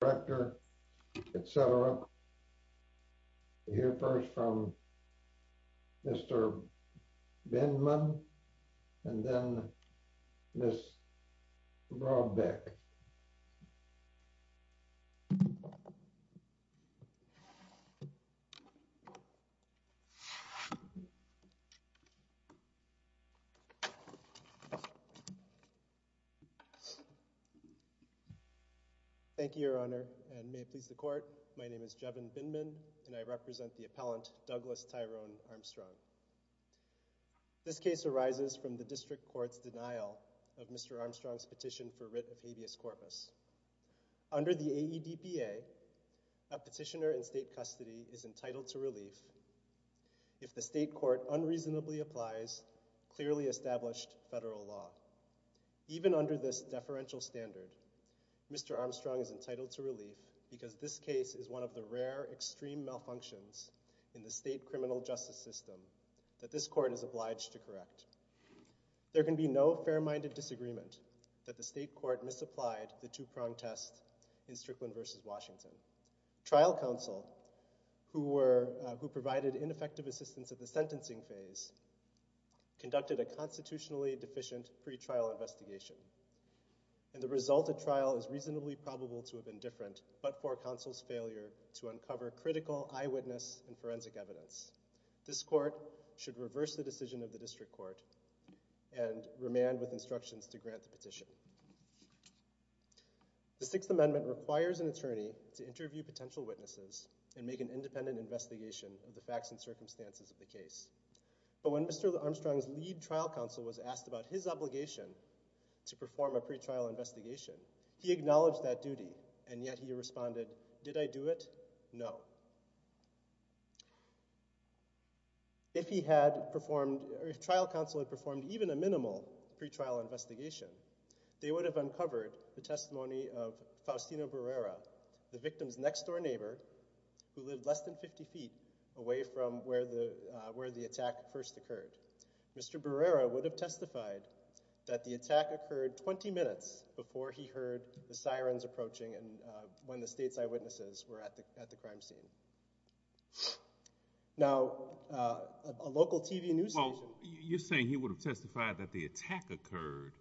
director, etc. We'll hear first from Mr. Bindman and then Ms. Brodbeck. Thank you, Your Honor, and may it please the court, my name is Jevin Bindman, and I represent the appellant, Douglas Tyrone Armstrong. This case arises from the district court's denial of Mr. Armstrong's petition for writ of habeas corpus. Under the AEDPA, a petitioner in state custody is entitled to relief if the state court unreasonably applies clearly established federal law. Even under this deferential standard, Mr. Armstrong is entitled to relief because this case is one of the rare extreme malfunctions in the state criminal justice system that this court is obliged to correct. There can be no fair-minded disagreement that the state court misapplied the two-pronged test in Strickland v. Washington. Trial counsel, who provided ineffective assistance at the sentencing phase, conducted a constitutionally deficient pretrial investigation, and the result of trial is reasonably probable to have been different but for counsel's failure to uncover critical eyewitness and forensic evidence. This court should reverse the decision of the district court and remand with instructions to grant the petition. The Sixth Amendment requires an attorney to interview potential witnesses and make an independent investigation of the facts and circumstances of the case. But when Mr. Armstrong's lead trial counsel was asked about his obligation to perform a pretrial investigation, he acknowledged that duty, and yet he responded, did I do it? No. If he had performed, if trial counsel had performed even a minimal pretrial investigation, they would have uncovered the testimony of Faustino Barrera, the victim's next-door neighbor who lived less than 50 feet away from where the attack first occurred. Mr. Barrera would have testified that the attack occurred 20 minutes before he heard the sirens approaching and when the state's eyewitnesses were at the crime scene. Now, a local TV news station Well, you're saying he would have testified that the attack occurred,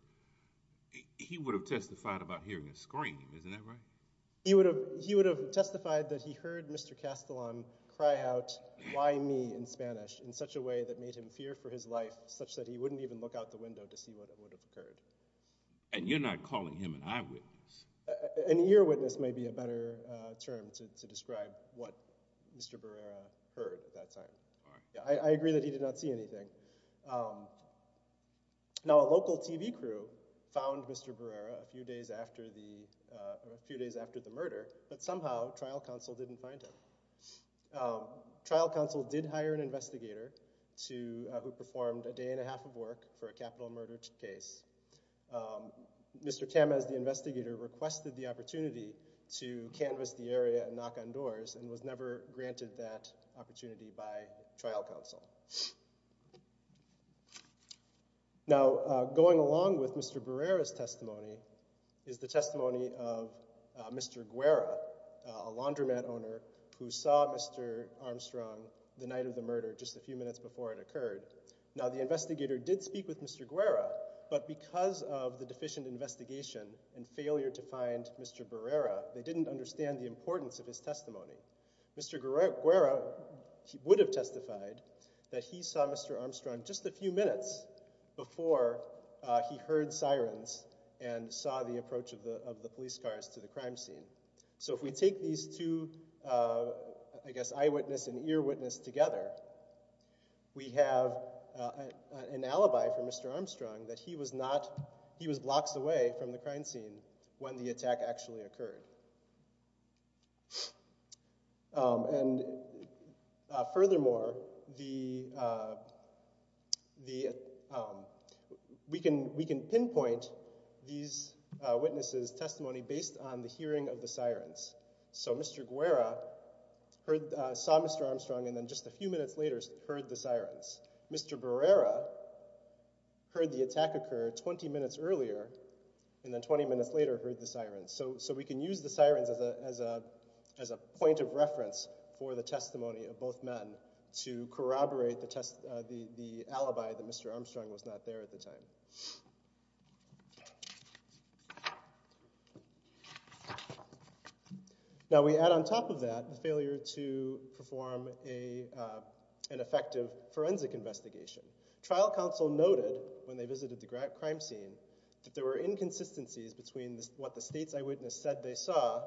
he would have testified about hearing a scream, isn't that right? He would have testified that he heard Mr. Castellan cry out, why me, in Spanish, in such a way that made him fear for his life such that he wouldn't even look out the window to see what would have occurred. And you're not calling him an eyewitness. An earwitness may be a better term to describe what Mr. Barrera heard at that time. I agree that he did not see anything. Now, a local TV crew found Mr. Barrera a few days after the murder, but somehow trial counsel didn't find him. Trial counsel did hire an investigator who performed a day and a half of work for a capital murder case. Mr. Tamez, the investigator, requested the opportunity to canvas the area and knock on doors and was never granted that opportunity by trial counsel. Now, going along with Mr. Barrera's testimony is the testimony of Mr. Guerra, a laundromat owner who saw Mr. Armstrong the night of the murder, just a few minutes before it occurred. Now, the case is in Guerrera, but because of the deficient investigation and failure to find Mr. Barrera, they didn't understand the importance of his testimony. Mr. Guerra would have testified that he saw Mr. Armstrong just a few minutes before he heard sirens and saw the approach of the police cars to the crime scene. So if we take these two, I guess, eyewitness and earwitness together, we have an alibi for Mr. Armstrong that he was not, he was blocks away from the crime scene when the attack actually occurred. And furthermore, we can pinpoint these witnesses' testimony based on the hearing of the sirens. So Mr. Armstrong and then just a few minutes later heard the sirens. Mr. Barrera heard the attack occur 20 minutes earlier and then 20 minutes later heard the sirens. So we can use the sirens as a point of reference for the testimony of both men to corroborate the alibi that Mr. Armstrong was not there at the time. Now, we add on top of that the failure to perform an effective forensic investigation. Trial counsel noted when they visited the crime scene that there were inconsistencies between what the state's eyewitness said they saw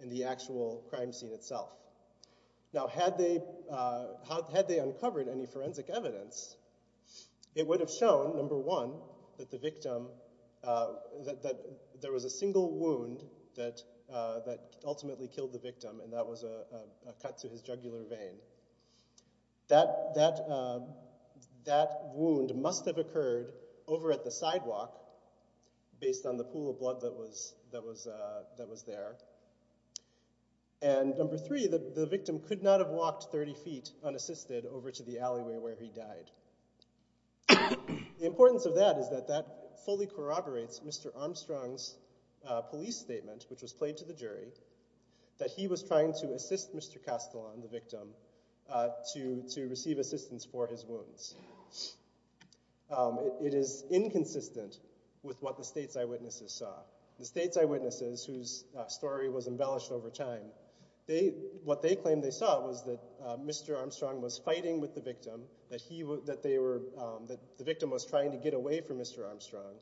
and the actual crime scene itself. Now, had they uncovered any forensic evidence, it would have shown, number one, that the victim, that there was a single wound that ultimately killed the victim and that was a cut to his jugular vein. That wound must have occurred over at the sidewalk based on the pool of blood that was there. And number three, the victim could not have walked 30 feet unassisted over to the alleyway where he died. The importance of that is that that fully corroborates Mr. Armstrong's police statement, which was played to the jury, that he was trying to assist Mr. Castellan, the victim, to receive assistance for his wounds. It is inconsistent with what the state's eyewitnesses saw. The state's eyewitnesses, whose story was embellished over time, what they claimed they saw was that Mr. Armstrong was fighting with the victim, that the victim was trying to get away from Mr. Armstrong,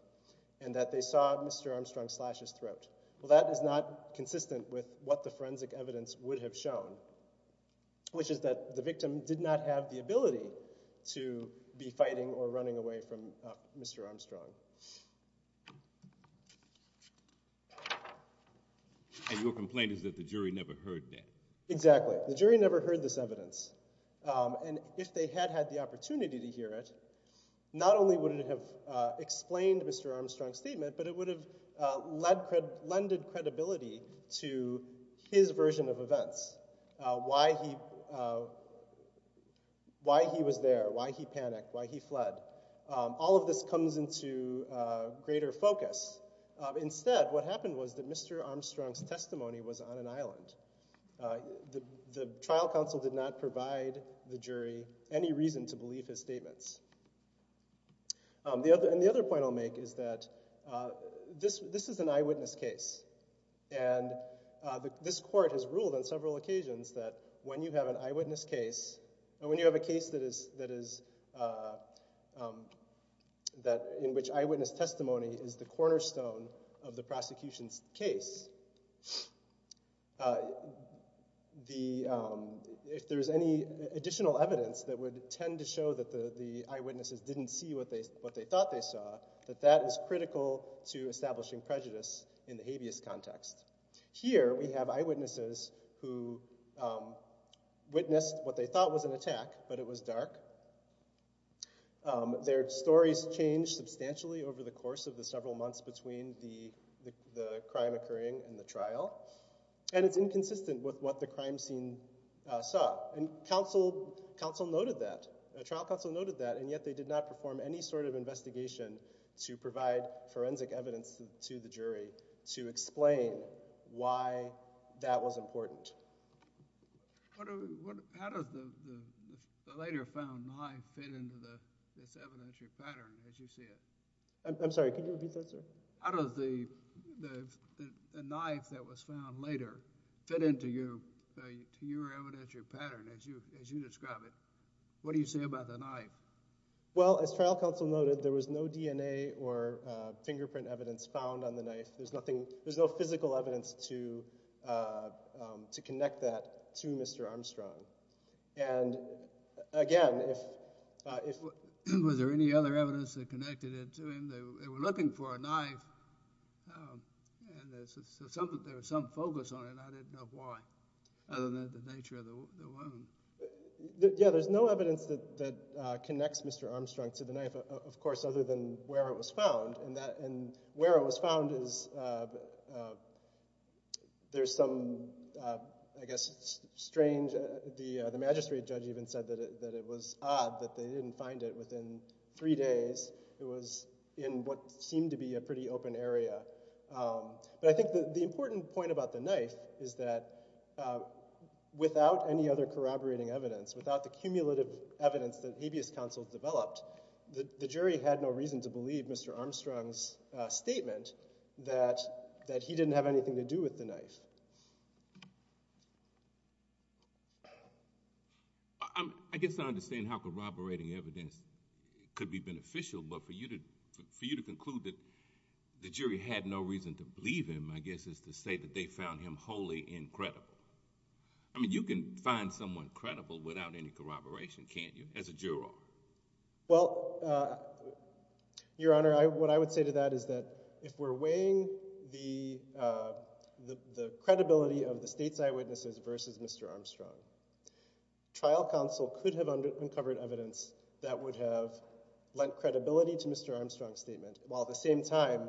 and that they saw Mr. Armstrong slash his throat. Well, that is not consistent with what the forensic evidence would have shown, which is that the victim did not have the ability to be fighting or running away from Mr. Armstrong. And your complaint is that the jury never heard that? Exactly. The jury never heard this evidence. And if they had had the opportunity to hear it, not only would it have explained Mr. Armstrong's statement, but it would have lended credibility to his version of events, why he was there, why he panicked, why he fled. All of this comes into greater focus. Instead, what happened was that Mr. Armstrong's testimony was on an island. The trial counsel did not provide the jury any reason to believe his statements. And the other point I'll make is that this is an eyewitness case, and this court has ruled on several occasions that when you have an eyewitness case, when you have a case that is, that in which eyewitness testimony is the cornerstone of the prosecution's case, that the, if there's any additional evidence that would tend to show that the eyewitnesses didn't see what they thought they saw, that that is critical to establishing prejudice in the habeas context. Here, we have eyewitnesses who witnessed what they thought was an attack, but it was dark. Their stories changed substantially over the course of the several months between the crime occurring and the trial, and it's inconsistent with what the crime scene saw. Counsel noted that. The trial counsel noted that, and yet they did not perform any sort of investigation to provide forensic evidence to the jury to explain why that was important. How does the later found knife fit into this evidentiary pattern, as you see it? How does the knife that was found later fit into your evidentiary pattern, as you describe it? What do you say about the knife? Well, as trial counsel noted, there was no DNA or fingerprint evidence found on the knife. There's nothing, there's no physical evidence to connect that to Mr. Armstrong, and again, if. Was there any other evidence that connected it to him? They were looking for a knife, and there was some focus on it, and I didn't know why, other than the nature of the wound. Yeah, there's no evidence that connects Mr. Armstrong to the knife, of course, other than where it was found, and where it was found is, there's some, I guess, strange, the magistrate judge even said that it was odd that they didn't find it within three days. It was in what seemed to be a pretty open area, but I think the important point about the knife is that without any other corroborating evidence, without the cumulative evidence that habeas counsel developed, the jury had no reason to believe Mr. Armstrong's statement that he didn't have anything to do with the knife. I guess I understand how corroborating evidence could be beneficial, but for you to conclude that the jury had no reason to believe him, I guess is to say that they found him wholly incredible. I mean, you can find someone credible without any corroboration, can't you, as a juror? Well, Your Honor, what I would say to that is that if we're weighing the credibility of the state's eyewitnesses versus Mr. Armstrong, trial counsel could have uncovered evidence that would have lent credibility to Mr. Armstrong's statement, while at the same time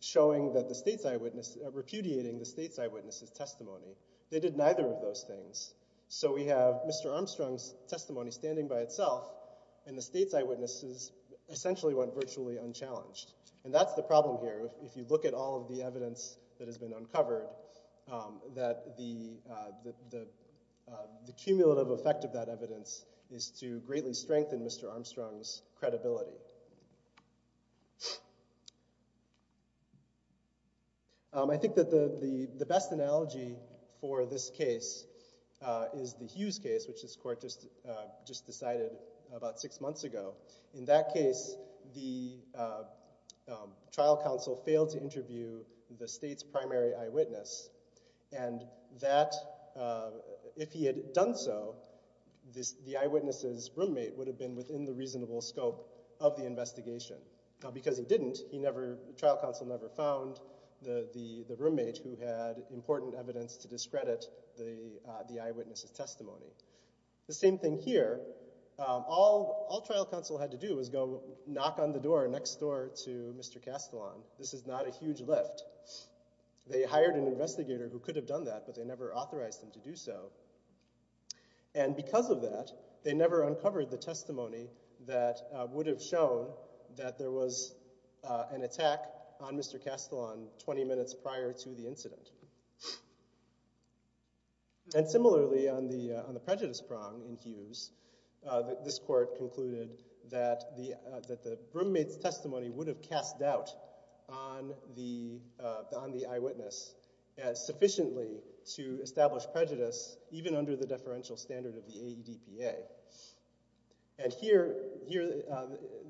showing that the state's eyewitness, repudiating the state's eyewitness's testimony. They did neither of those things. So we have Mr. Armstrong's testimony standing by itself, and the state's eyewitnesses essentially went virtually unchallenged. And that's the problem here, if you look at all of the evidence that has been uncovered, that the cumulative effect of that evidence is to greatly strengthen Mr. Armstrong's credibility. I think that the best analogy for this case is the Hughes case, which this court just decided about six months ago. In that case, the trial counsel failed to interview the state's primary eyewitness, and that, if he had done so, the eyewitness's roommate would have been within the reasonable scope of the investigation. Because he didn't, the trial counsel never found the roommate who had important evidence to discredit the eyewitness's testimony. The same thing here. All trial counsel had to do was go knock on the door next door to Mr. Castellon. This is not a huge lift. They hired an investigator who could have done that, but they never authorized him to do so. And because of that, they never uncovered the testimony that would have shown that there was an attack on Mr. Castellon 20 minutes prior to the incident. And similarly, on the prejudice prong in Hughes, this court concluded that the roommate's testimony would have cast doubt on the eyewitness sufficiently to establish prejudice, even under the deferential standard of the AEDPA. And here,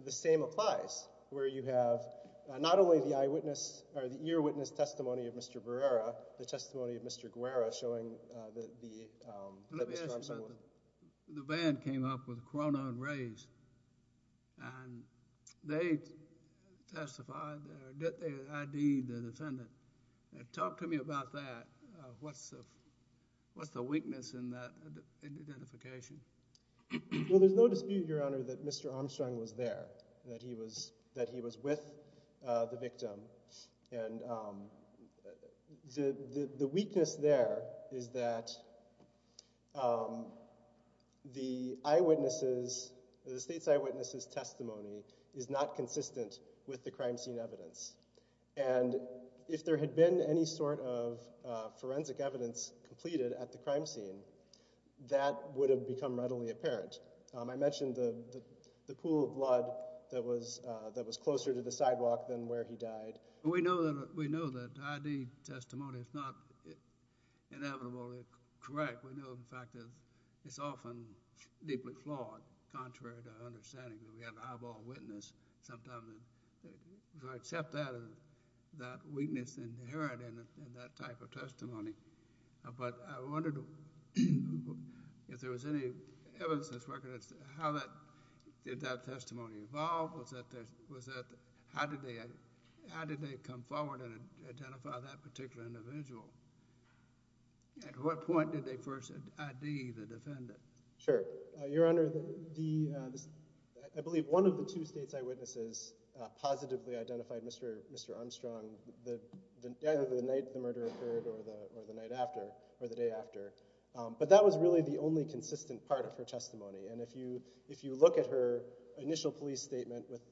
the same applies, where you have not only the eyewitness, or the eyewitness testimony of Mr. Barrera, the testimony of Mr. Guerra showing that the, that Mr. Armstrong would have. The band came up with Corona and Rays, and they testified, or did they ID the defendant? Talk to me about that. What's the weakness in that identification? Well, there's no dispute, Your Honor, that Mr. Armstrong was there, that he was, that he was with the victim. And the weakness there is that the eyewitnesses, the state's eyewitnesses testimony is not consistent with the crime scene evidence. And if there had been any sort of forensic evidence completed at the crime scene, that would have become readily apparent. I mentioned the pool of blood that was closer to the sidewalk than where he died. We know that ID testimony is not inevitably correct. We know, in fact, that it's often deeply flawed, contrary to our understanding, that we have an eyeball witness sometimes. So I accept that weakness inherent in that type of testimony. But I wondered if there was any evidence that's recognized, how that, did that testimony evolve? Was that, how did they come forward and identify that particular individual? At what point did they first ID the defendant? Sure. Your Honor, the, I believe one of the two state's eyewitnesses positively identified Mr. Armstrong, either the night the murder occurred or the night after, or the day after. But that was really the only consistent part of her testimony. And if you, if you look at her initial police statement with,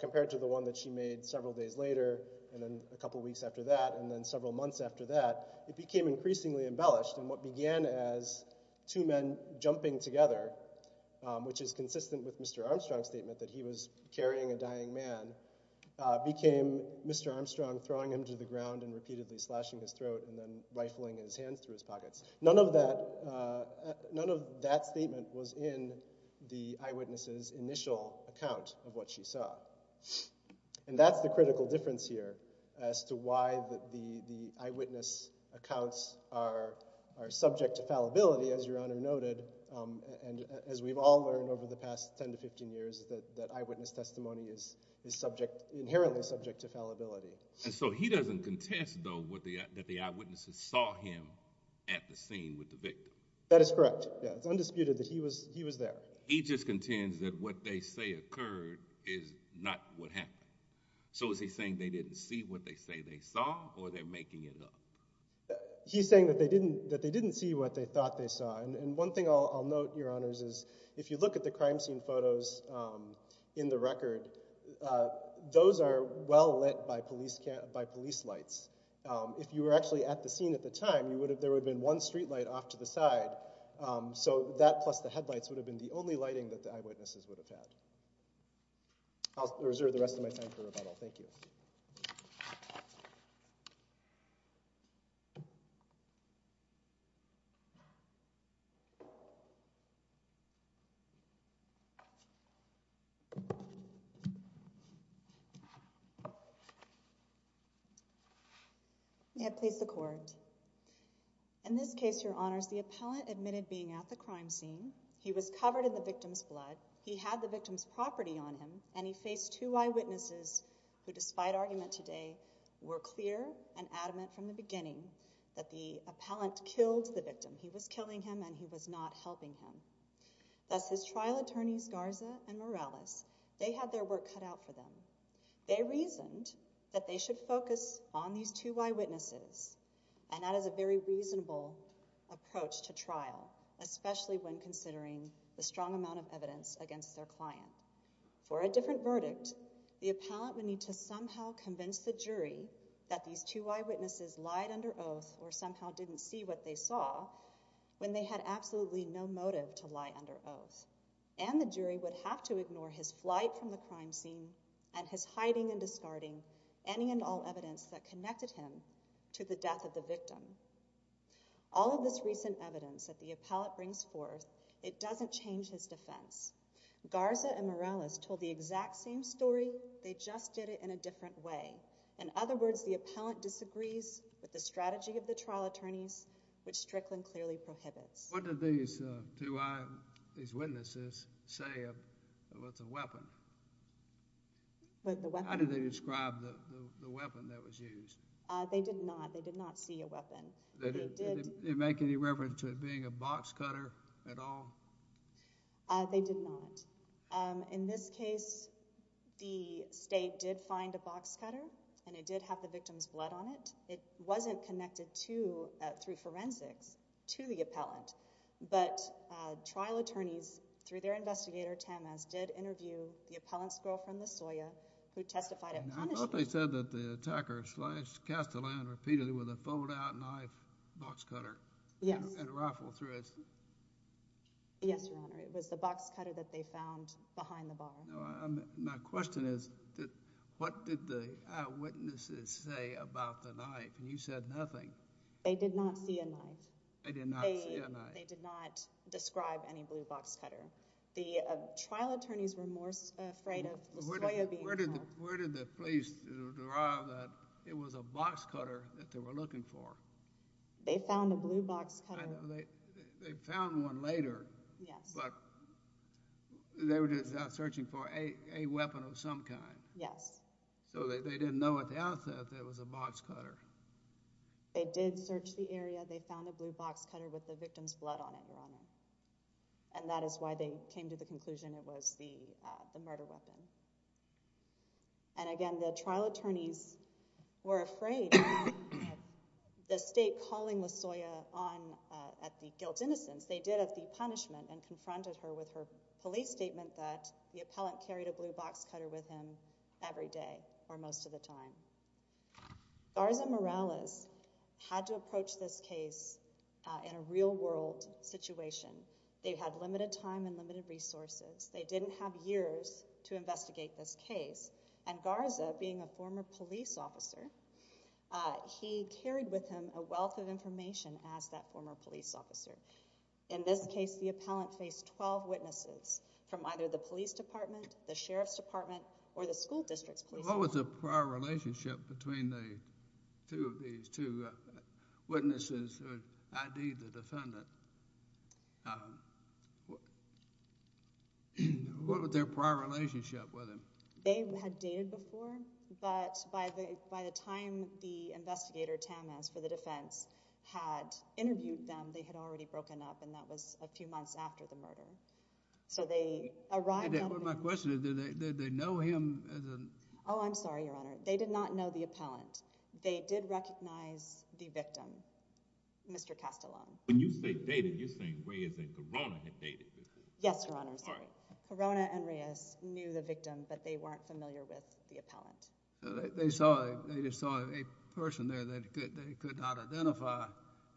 compared to the one that she made several days later and then a couple of weeks after that, and then several months after that, it became increasingly embellished. And what began as two men jumping together, which is consistent with Mr. Armstrong's statement that he was carrying a dying man, became Mr. Armstrong throwing him to the ground and repeatedly slashing his throat and then rifling his hands through his pockets. None of that, none of that statement was in the eyewitness's initial account of what she saw. And that's the critical difference here as to why the eyewitness accounts are, are subject to fallibility, as Your Honor noted. And as we've all learned over the past 10 to 15 years, that, that eyewitness testimony is, is subject, inherently subject to fallibility. And so he doesn't contest though, what the, that the eyewitnesses saw him at the scene with the victim? That is correct. Yeah. It's undisputed that he was, he was there. He just contends that what they say occurred is not what happened. So is he saying they didn't see what they say they saw or they're making it up? He's saying that they didn't, that they didn't see what they thought they saw. And, and one thing I'll, I'll note, Your Honors, is if you look at the crime scene photos in the record, those are well lit by police, by police lights. If you were actually at the scene at the time, you would have, there would have been one streetlight off to the side. So that plus the headlights would have been the only lighting that the eyewitnesses would have had. I'll reserve the rest of my time for rebuttal. Thank you. Yeah, please. The court in this case, Your Honors, the appellant admitted being at the crime scene. He was covered in the victim's blood. He had the victim's property on him and he faced two eyewitnesses who, despite argument today, were clear and adamant from the beginning that the appellant killed the victim. He was killing him and he was not helping him. Thus, his trial attorneys, Garza and Morales, they had their work cut out for them. They reasoned that they should focus on these two eyewitnesses and that is a very reasonable approach to trial, especially when considering the strong amount of evidence against their client. For a different verdict, the appellant would need to somehow convince the jury that these two eyewitnesses lied under oath or somehow didn't see what they saw when they had absolutely no motive to lie under oath. And the jury would have to ignore his flight from the crime scene and his hiding and discarding any and all evidence that connected him to the death of the victim. All of this recent evidence that the appellant brings forth, it doesn't change his defense. Garza and Morales told the exact same story, they just did it in a different way. In other words, the appellant disagrees with the strategy of the trial attorneys, which Strickland clearly prohibits. What did these two eyewitnesses say about the weapon? How did they describe the weapon that was used? They did not. They did not see a weapon. Did they make any reference to it being a box cutter at all? They did not. In this case, the state did find a box cutter and it did have the victim's blood on it. It wasn't connected to, through forensics, to the appellant. But trial attorneys, through their investigator, Tamez, did interview the appellant's girlfriend, LaSoya, who testified at punishment. I thought they said that the attacker sliced, cast the land repeatedly with a fold-out knife box cutter. Yes. And rifled through it. Yes, Your Honor. It was the box cutter that they found behind the bar. My question is, what did the eyewitnesses say about the knife? And you said nothing. They did not see a knife. They did not see a knife. They did not describe any blue box cutter. The trial attorneys were more afraid of LaSoya being found. Where did the police derive that it was a box cutter that they were looking for? They found a blue box cutter. I know. They found one later. Yes. But they were just out searching for a weapon of some kind. Yes. So they didn't know at the outset that it was a box cutter. They did search the area. They found a blue box cutter with the victim's blood on it, Your Honor. And that is why they came to the conclusion it was the murder weapon. And again, the trial attorneys were afraid of the state calling LaSoya on at the guilt innocence. They did at the punishment and confronted her with her police statement that the appellant carried a blue box cutter with him every day or most of the time. Garza Morales had to approach this case in a real world situation. They had limited time and limited resources. They didn't have years to investigate this case. And Garza, being a former police officer, he carried with him a wealth of information as that former police officer. In this case, the appellant faced 12 witnesses from either the police department, the sheriff's department, or the school district's police department. What was the prior relationship between the two of these two witnesses who had ID'd the defendant? What was their prior relationship with him? They had dated before. But by the time the investigator, Tamas, for the defense had interviewed them, they had already broken up. And that was a few months after the murder. So they arrived. My question is, did they know him? Oh, I'm sorry, Your Honor. They did not know the appellant. They did recognize the victim, Mr. Castellon. When you say dated, you're saying way as a corona had dated. Yes, Your Honor. Corona and Reyes knew the victim, but they weren't familiar with the appellant. They just saw a person there that they could not identify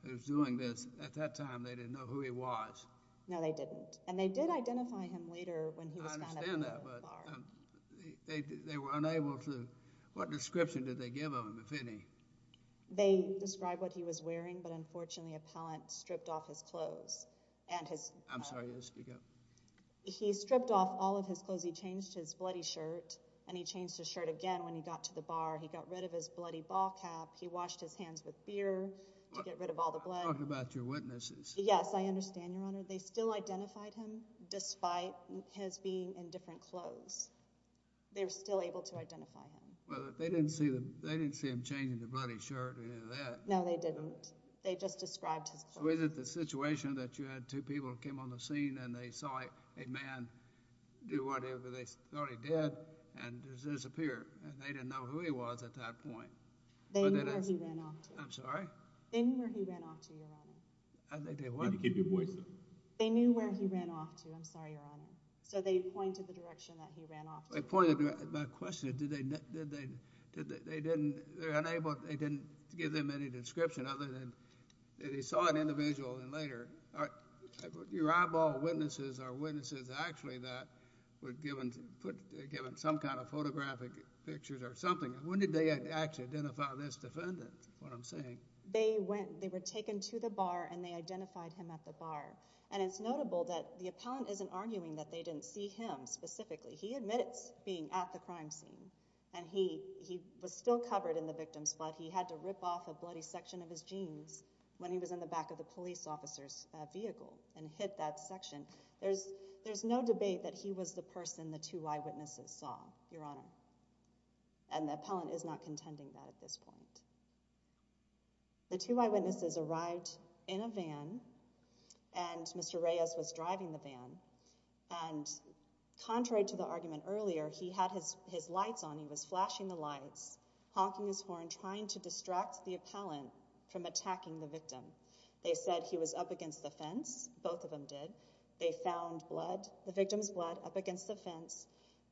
who was doing this. At that time, they didn't know who he was. No, they didn't. And they did identify him later when he was found at the bar. I understand that, but they were unable to. What description did they give of him, if any? They described what he was wearing, but unfortunately, the appellant stripped off his clothes. I'm sorry, yes, you go. He stripped off all of his clothes. He changed his bloody shirt, and he changed his shirt again when he got to the bar. He got rid of his bloody ball cap. He washed his hands with beer to get rid of all the blood. I'm talking about your witnesses. Yes, I understand, Your Honor. They still identified him, despite his being in different clothes. They were still able to identify him. Well, they didn't see him changing the bloody shirt or any of that. No, they didn't. They just described his clothes. So is it the situation that you had two people that came on the scene, and they saw a man do whatever they thought he did and just disappear, and they didn't know who he was at that point? They knew where he ran off to. I'm sorry? They knew where he ran off to, Your Honor. They did what? Can you keep your voice up? They knew where he ran off to. I'm sorry, Your Honor. So they pointed the direction that he ran off to. They pointed the direction. My question is, did they, did they, did they, they didn't, they're unable, they didn't give them any description other than, they saw an individual, and later, your eyeball witnesses are witnesses, actually, that were given, given some kind of photographic pictures or something. When did they actually identify this defendant, is what I'm saying? They went, they were taken to the bar, and they identified him at the bar. And it's notable that the appellant isn't arguing that they didn't see him specifically. He admits being at the crime scene. And he, he was still covered in the victim's blood. He had to rip off a bloody section of his jeans when he was in the back of the police officer's vehicle and hit that section. There's, there's no debate that he was the person the two eyewitnesses saw, Your Honor. And the appellant is not contending that at this point. The two eyewitnesses arrived in a van, and Mr. Reyes was driving the van. And contrary to the argument earlier, he had his, his lights on. He was flashing the lights, honking his horn, trying to distract the appellant from attacking the victim. They said he was up against the fence. Both of them did. They found blood, the victim's blood, up against the fence.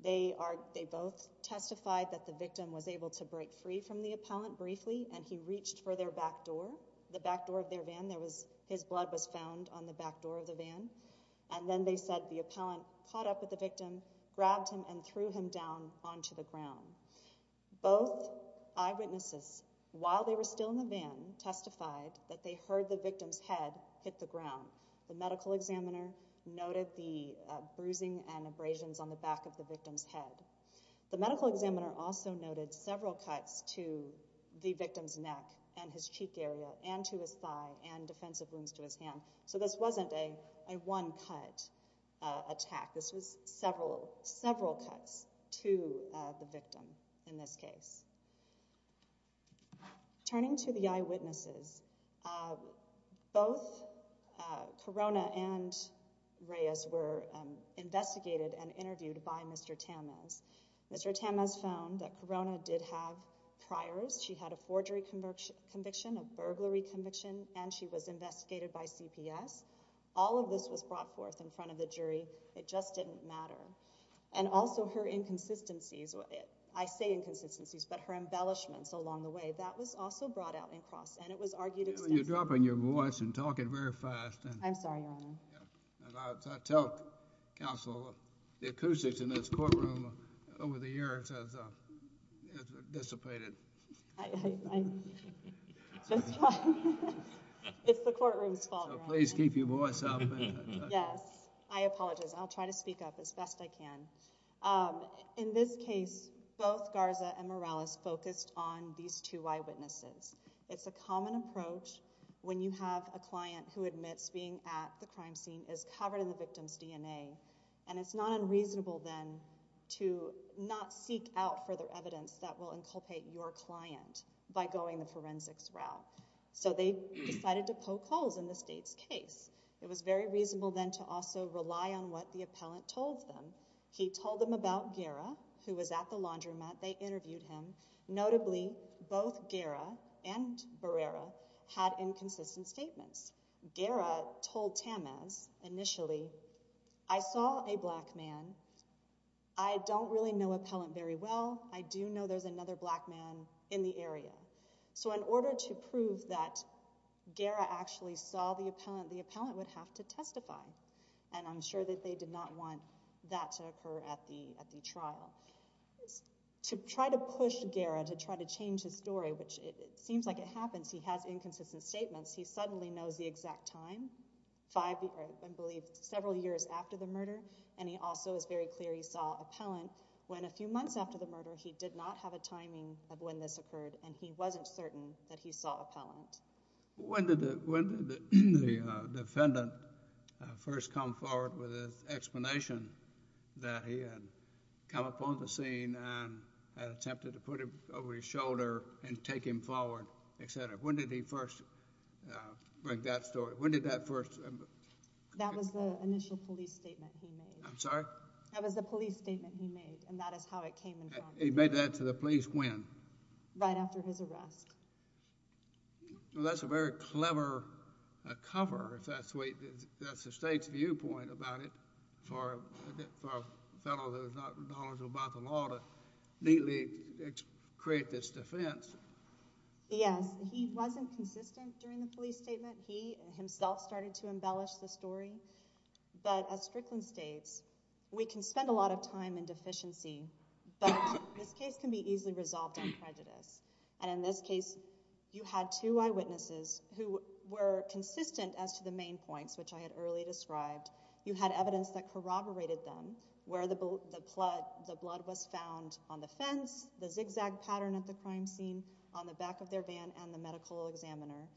They are, they both testified that the victim was able to break free from the appellant briefly, and he reached for their back door, the back door of their van. There was, his blood was found on the back door of the van. And then they said the appellant caught up with the victim, grabbed him, and threw him onto the ground. Both eyewitnesses, while they were still in the van, testified that they heard the victim's head hit the ground. The medical examiner noted the bruising and abrasions on the back of the victim's head. The medical examiner also noted several cuts to the victim's neck and his cheek area, and to his thigh, and defensive wounds to his hand. So this wasn't a, a one-cut attack. This was several, several cuts to the victim in this case. Turning to the eyewitnesses, both Corona and Reyes were investigated and interviewed by Mr. Tamez. Mr. Tamez found that Corona did have priors. She had a forgery conviction, a burglary conviction, and she was investigated by CPS. It just didn't matter. And also her inconsistencies, I say inconsistencies, but her embellishments along the way, that was also brought out in Cross, and it was argued extensively. You're dropping your voice and talking very fast. I'm sorry, Your Honor. I tell counsel, the acoustics in this courtroom over the years has dissipated. It's the courtroom's fault. Please keep your voice up. Yes, I apologize. I'll try to speak up as best I can. In this case, both Garza and Morales focused on these two eyewitnesses. It's a common approach when you have a client who admits being at the crime scene is covered in the victim's DNA, and it's not unreasonable then to not seek out further evidence that will inculpate your client by going the forensics route. So they decided to poke holes in the state's case. It was very reasonable then to also rely on what the appellant told them. He told them about Guerra, who was at the laundromat. They interviewed him. Notably, both Guerra and Barrera had inconsistent statements. Guerra told Tamez initially, I saw a black man. I don't really know appellant very well. I do know there's another black man in the area. So in order to prove that Guerra actually saw the appellant, the appellant would have to testify, and I'm sure that they did not want that to occur at the trial. To try to push Guerra to try to change his story, which it seems like it happens, he has inconsistent statements. He suddenly knows the exact time, five, I believe, several years after the murder, and he also is very clear he saw appellant when a few months after the murder, he did not have a timing of when this occurred, and he wasn't certain that he saw appellant. When did the defendant first come forward with his explanation that he had come upon the scene and attempted to put him over his shoulder and take him forward, et cetera? When did he first break that story? When did that first— That was the initial police statement he made. I'm sorry? That was the police statement he made, and that is how it came in front of the jury. He made that to the police when? Right after his arrest. Well, that's a very clever cover, if that's the state's viewpoint about it for a fellow that is not knowledgeable about the law to neatly create this defense. Yes, he wasn't consistent during the police statement. He himself started to embellish the story, but as Strickland states, we can spend a lot of time in deficiency, but this case can be easily resolved on prejudice, and in this case, you had two eyewitnesses who were consistent as to the main points, which I had earlier described. You had evidence that corroborated them, where the blood was found on the fence, the zigzag pattern at the crime scene, on the back of their van, and the medical examiner,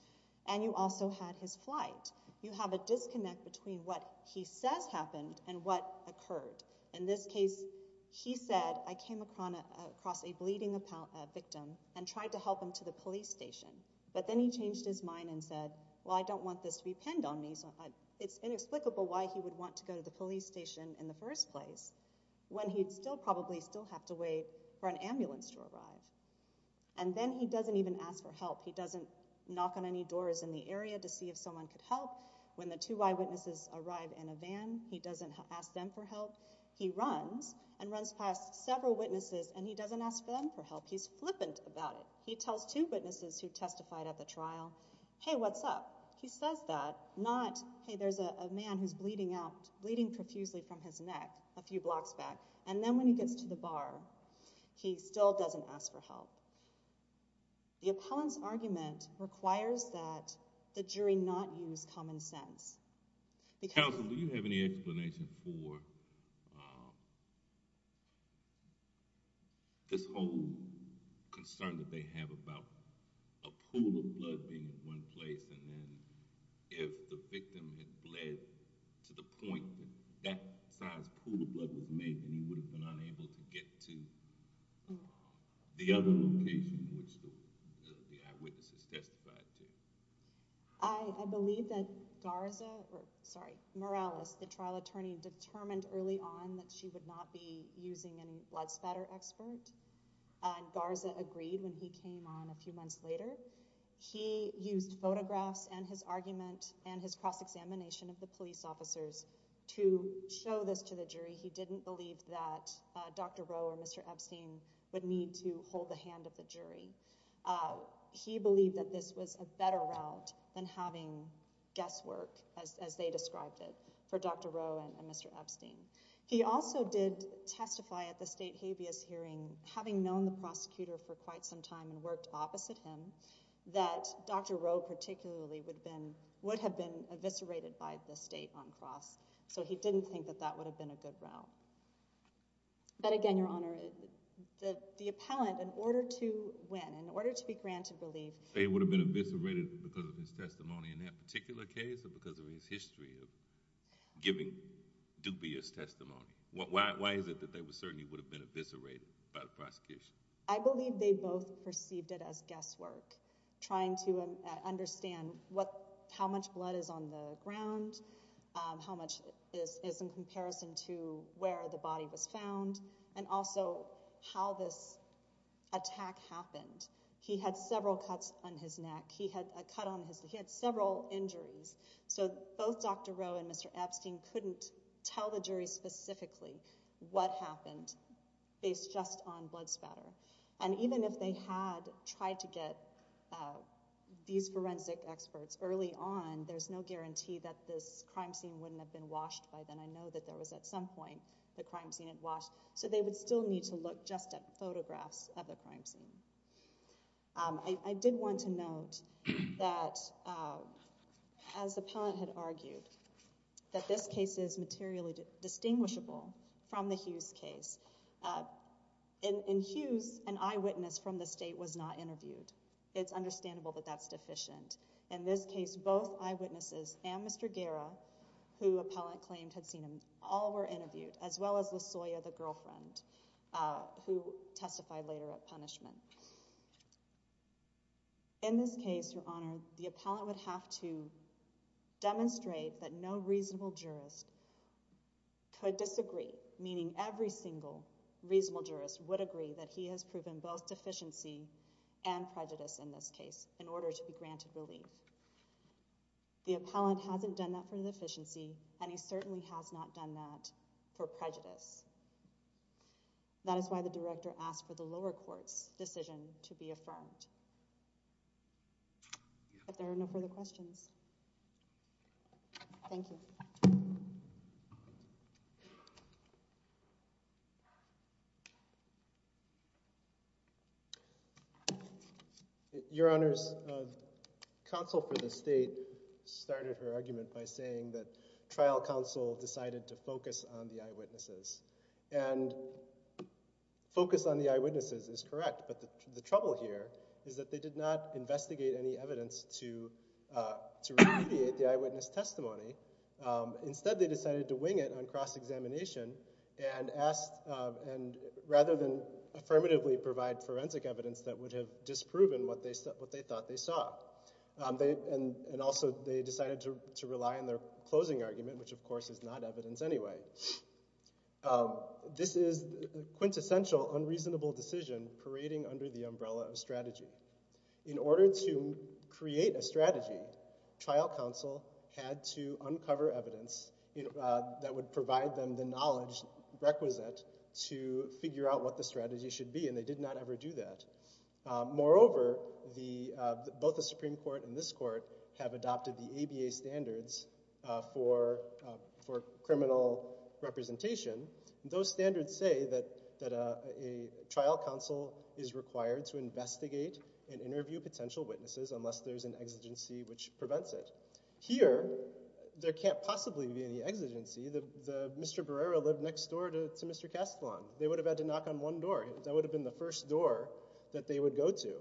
and you also had his flight. You have a disconnect between what he says happened and what occurred. In this case, he said, I came across a bleeding victim and tried to help him to the police station, but then he changed his mind and said, well, I don't want this to be pinned on me, so it's inexplicable why he would want to go to the police station in the first place when he'd still probably still have to wait for an ambulance to arrive, and then he doesn't even ask for help. He doesn't knock on any doors in the area to see if someone could help. When the two eyewitnesses arrive in a van, he doesn't ask them for help. He runs and runs past several witnesses, and he doesn't ask them for help. He's flippant about it. He tells two witnesses who testified at the trial, hey, what's up? He says that, not, hey, there's a man who's bleeding profusely from his neck a few blocks back, and then when he gets to the bar, he still doesn't ask for help. The appellant's argument requires that the jury not use common sense. Counsel, do you have any explanation for this whole concern that they have about a pool of blood being in one place, and then if the victim had bled to the point that that size pool of blood was made, then he would have been unable to get to the other room. Is that the case in which the eyewitnesses testified to? I believe that Garza, sorry, Morales, the trial attorney, determined early on that she would not be using any blood spatter expert. Garza agreed when he came on a few months later. He used photographs and his argument and his cross-examination of the police officers to show this to the jury. He didn't believe that Dr. Rowe or Mr. Epstein would need to hold the hand of the jury. He believed that this was a better route than having guesswork, as they described it, for Dr. Rowe and Mr. Epstein. He also did testify at the state habeas hearing, having known the prosecutor for quite some time and worked opposite him, that Dr. Rowe particularly would have been eviscerated by the state on cross, so he didn't think that that would have been a good route. But again, Your Honor, the appellant, in order to win, in order to be granted relief— They would have been eviscerated because of his testimony in that particular case or because of his history of giving dubious testimony? Why is it that they certainly would have been eviscerated by the prosecution? I believe they both perceived it as guesswork, trying to understand how much blood is on the ground, how much is in comparison to where the body was found, and also how this attack happened. He had several cuts on his neck. He had a cut on his—he had several injuries. So both Dr. Rowe and Mr. Epstein couldn't tell the jury specifically what happened based just on blood spatter. And even if they had tried to get these forensic experts early on, there's no guarantee that this crime scene wouldn't have been washed by then. I know that there was at some point the crime scene had washed, so they would still need to look just at photographs of the crime scene. I did want to note that, as the appellant had argued, that this case is materially distinguishable from the Hughes case. In Hughes, an eyewitness from the state was not interviewed. It's understandable that that's deficient. In this case, both eyewitnesses and Mr. Guerra, who appellant claimed had seen him, all were interviewed, as well as LaSoya, the girlfriend, who testified later at punishment. In this case, Your Honor, the appellant would have to demonstrate that no reasonable jurist could disagree, meaning every single reasonable jurist would agree that he has proven both deficiency and prejudice in this case, in order to be granted relief. The appellant hasn't done that for deficiency, and he certainly has not done that for prejudice. That is why the director asked for the lower court's decision to be affirmed. If there are no further questions, thank you. Your Honor, the counsel for the state started her argument by saying that trial counsel decided to focus on the eyewitnesses. And focus on the eyewitnesses is correct, but the trouble here is that they did not investigate any evidence to remediate the eyewitness testimony. Instead, they decided to wing it on cross-examination, and rather than affirmatively provide forensic evidence that would have disproven what they thought they saw, and also they decided to rely on their closing argument, which of course is not evidence anyway. This is a quintessential unreasonable decision parading under the umbrella of strategy. In order to create a strategy, trial counsel had to uncover evidence that would provide them the knowledge requisite to figure out what the strategy should be, and they did not ever do that. Moreover, both the Supreme Court and this court have adopted the ABA standards for criminal representation. Those standards say that a trial counsel is required to investigate and interview potential witnesses unless there's an exigency which prevents it. Here, there can't possibly be any exigency. Mr. Barrera lived next door to Mr. Castelon. They would have had to knock on one door. That would have been the first door that they would go to.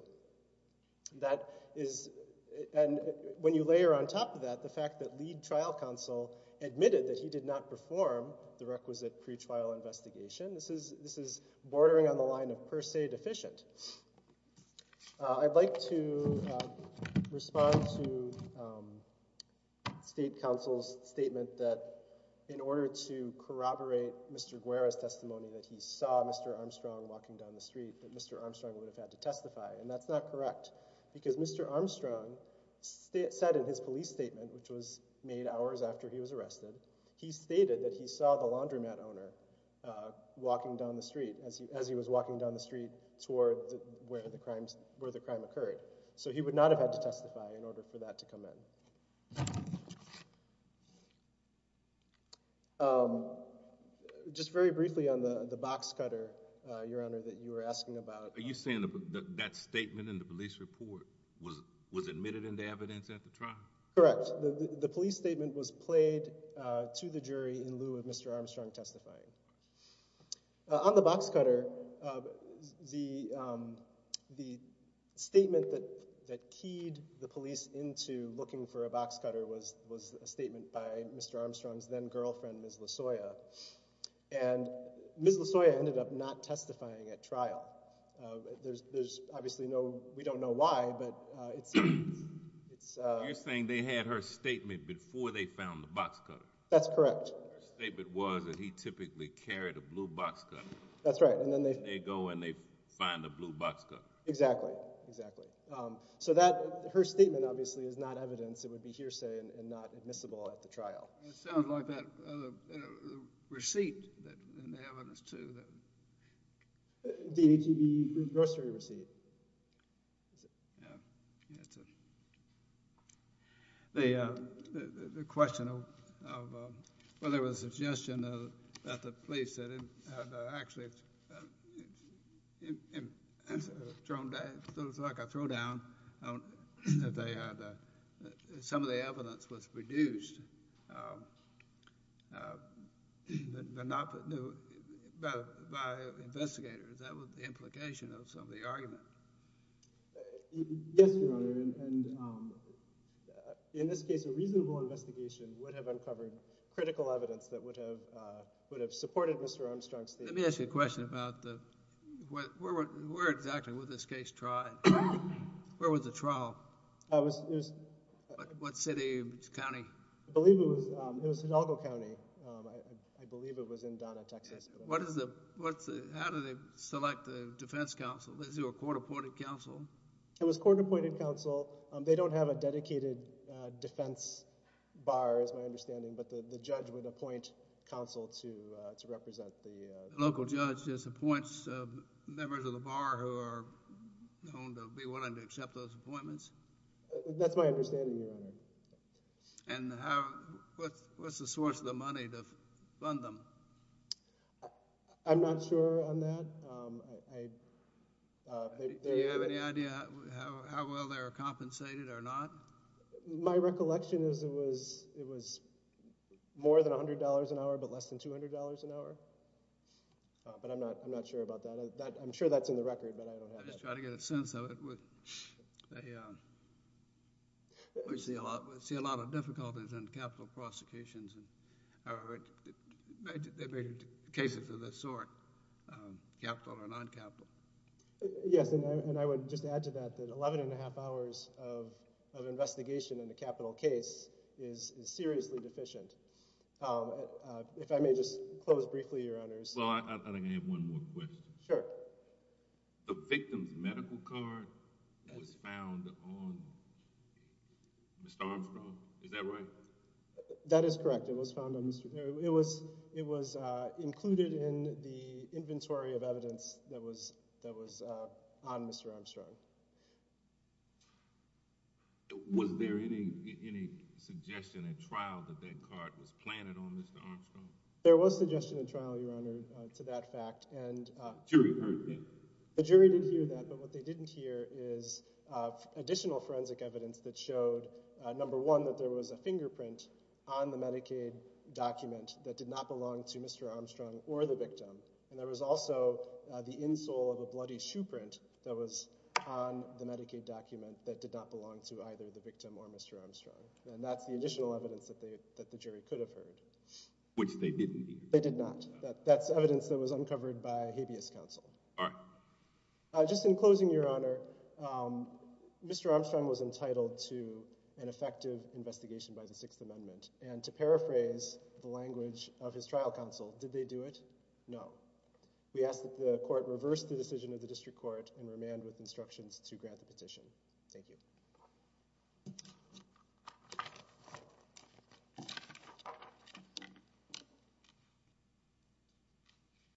And when you layer on top of that the fact that lead trial counsel admitted that he did not perform the requisite pretrial investigation, this is bordering on the line of per se deficient. I'd like to respond to state counsel's statement that in order to corroborate Mr. Guerra's testimony that he saw Mr. Armstrong walking down the street, that Mr. Armstrong would have had to testify, and that's not correct because Mr. Armstrong said in his statement that he saw the laundromat owner walking down the street as he was walking down the street toward where the crime occurred. So he would not have had to testify in order for that to come in. Just very briefly on the box cutter, Your Honor, that you were asking about. Are you saying that statement in the police report was admitted into evidence at the trial? Correct. The police statement was played to the jury in lieu of Mr. Armstrong testifying. On the box cutter, the statement that keyed the police into looking for a box cutter was a statement by Mr. Armstrong's then-girlfriend, Ms. Lasoya. And Ms. Lasoya ended up not testifying at trial. There's obviously no—we don't know why, but it's— You're saying they had her statement before they found the box cutter. That's correct. Her statement was that he typically carried a blue box cutter. That's right. And then they— They go and they find a blue box cutter. Exactly. Exactly. So that—her statement, obviously, is not evidence. It would be hearsay and not admissible at the trial. It sounds like that receipt in the evidence, too. The ATB grocery receipt. The question of—well, there was a suggestion that the police had actually—it was like a throwdown. Some of the evidence was produced by investigators. That was the implication of some of the argument. Yes, Your Honor, and in this case, a reasonable investigation would have uncovered critical evidence that would have supported Mr. Armstrong's statement. Let me ask you a question about where exactly was this case tried? Where was the trial? What city or county? I believe it was Hidalgo County. I believe it was in Donna, Texas. What is the—how do they select the defense counsel? Was there a court-appointed counsel? It was court-appointed counsel. They don't have a dedicated defense bar, is my understanding, but the judge would appoint counsel to represent the— Local judge just appoints members of the bar who are known to be willing to accept those appointments? That's my understanding, Your Honor. And how—what's the source of the money to fund them? I'm not sure on that. I— Do you have any idea how well they were compensated or not? My recollection is it was more than $100 an hour, but less than $200 an hour. But I'm not sure about that. I'm sure that's in the record, but I don't have that. I'm just trying to get a sense of it. We see a lot of difficulties in capital prosecutions. Are there cases of this sort, capital or non-capital? Yes, and I would just add to that that 11 1⁄2 hours of investigation in a capital case is seriously deficient. If I may just close briefly, Your Honors. Well, I think I have one more question. Sure. The victim's medical card was found on Mr. Armstrong. Is that right? That is correct. It was found on Mr.—it was included in the inventory of evidence that was on Mr. Armstrong. Was there any suggestion at trial that that card was planted on Mr. Armstrong? There was suggestion at trial, Your Honor, to that fact, and— The jury heard that? The jury did hear that, but what they didn't hear is additional forensic evidence that there was a fingerprint on the Medicaid document that did not belong to Mr. Armstrong or the victim, and there was also the insole of a bloody shoe print that was on the Medicaid document that did not belong to either the victim or Mr. Armstrong, and that's the additional evidence that the jury could have heard. Which they didn't hear. They did not. All right. Just in closing, Your Honor, Mr. Armstrong was entitled to an effective investigation by the Sixth Amendment, and to paraphrase the language of his trial counsel, did they do it? No. We ask that the court reverse the decision of the district court and remand with instructions to grant the petition. Thank you.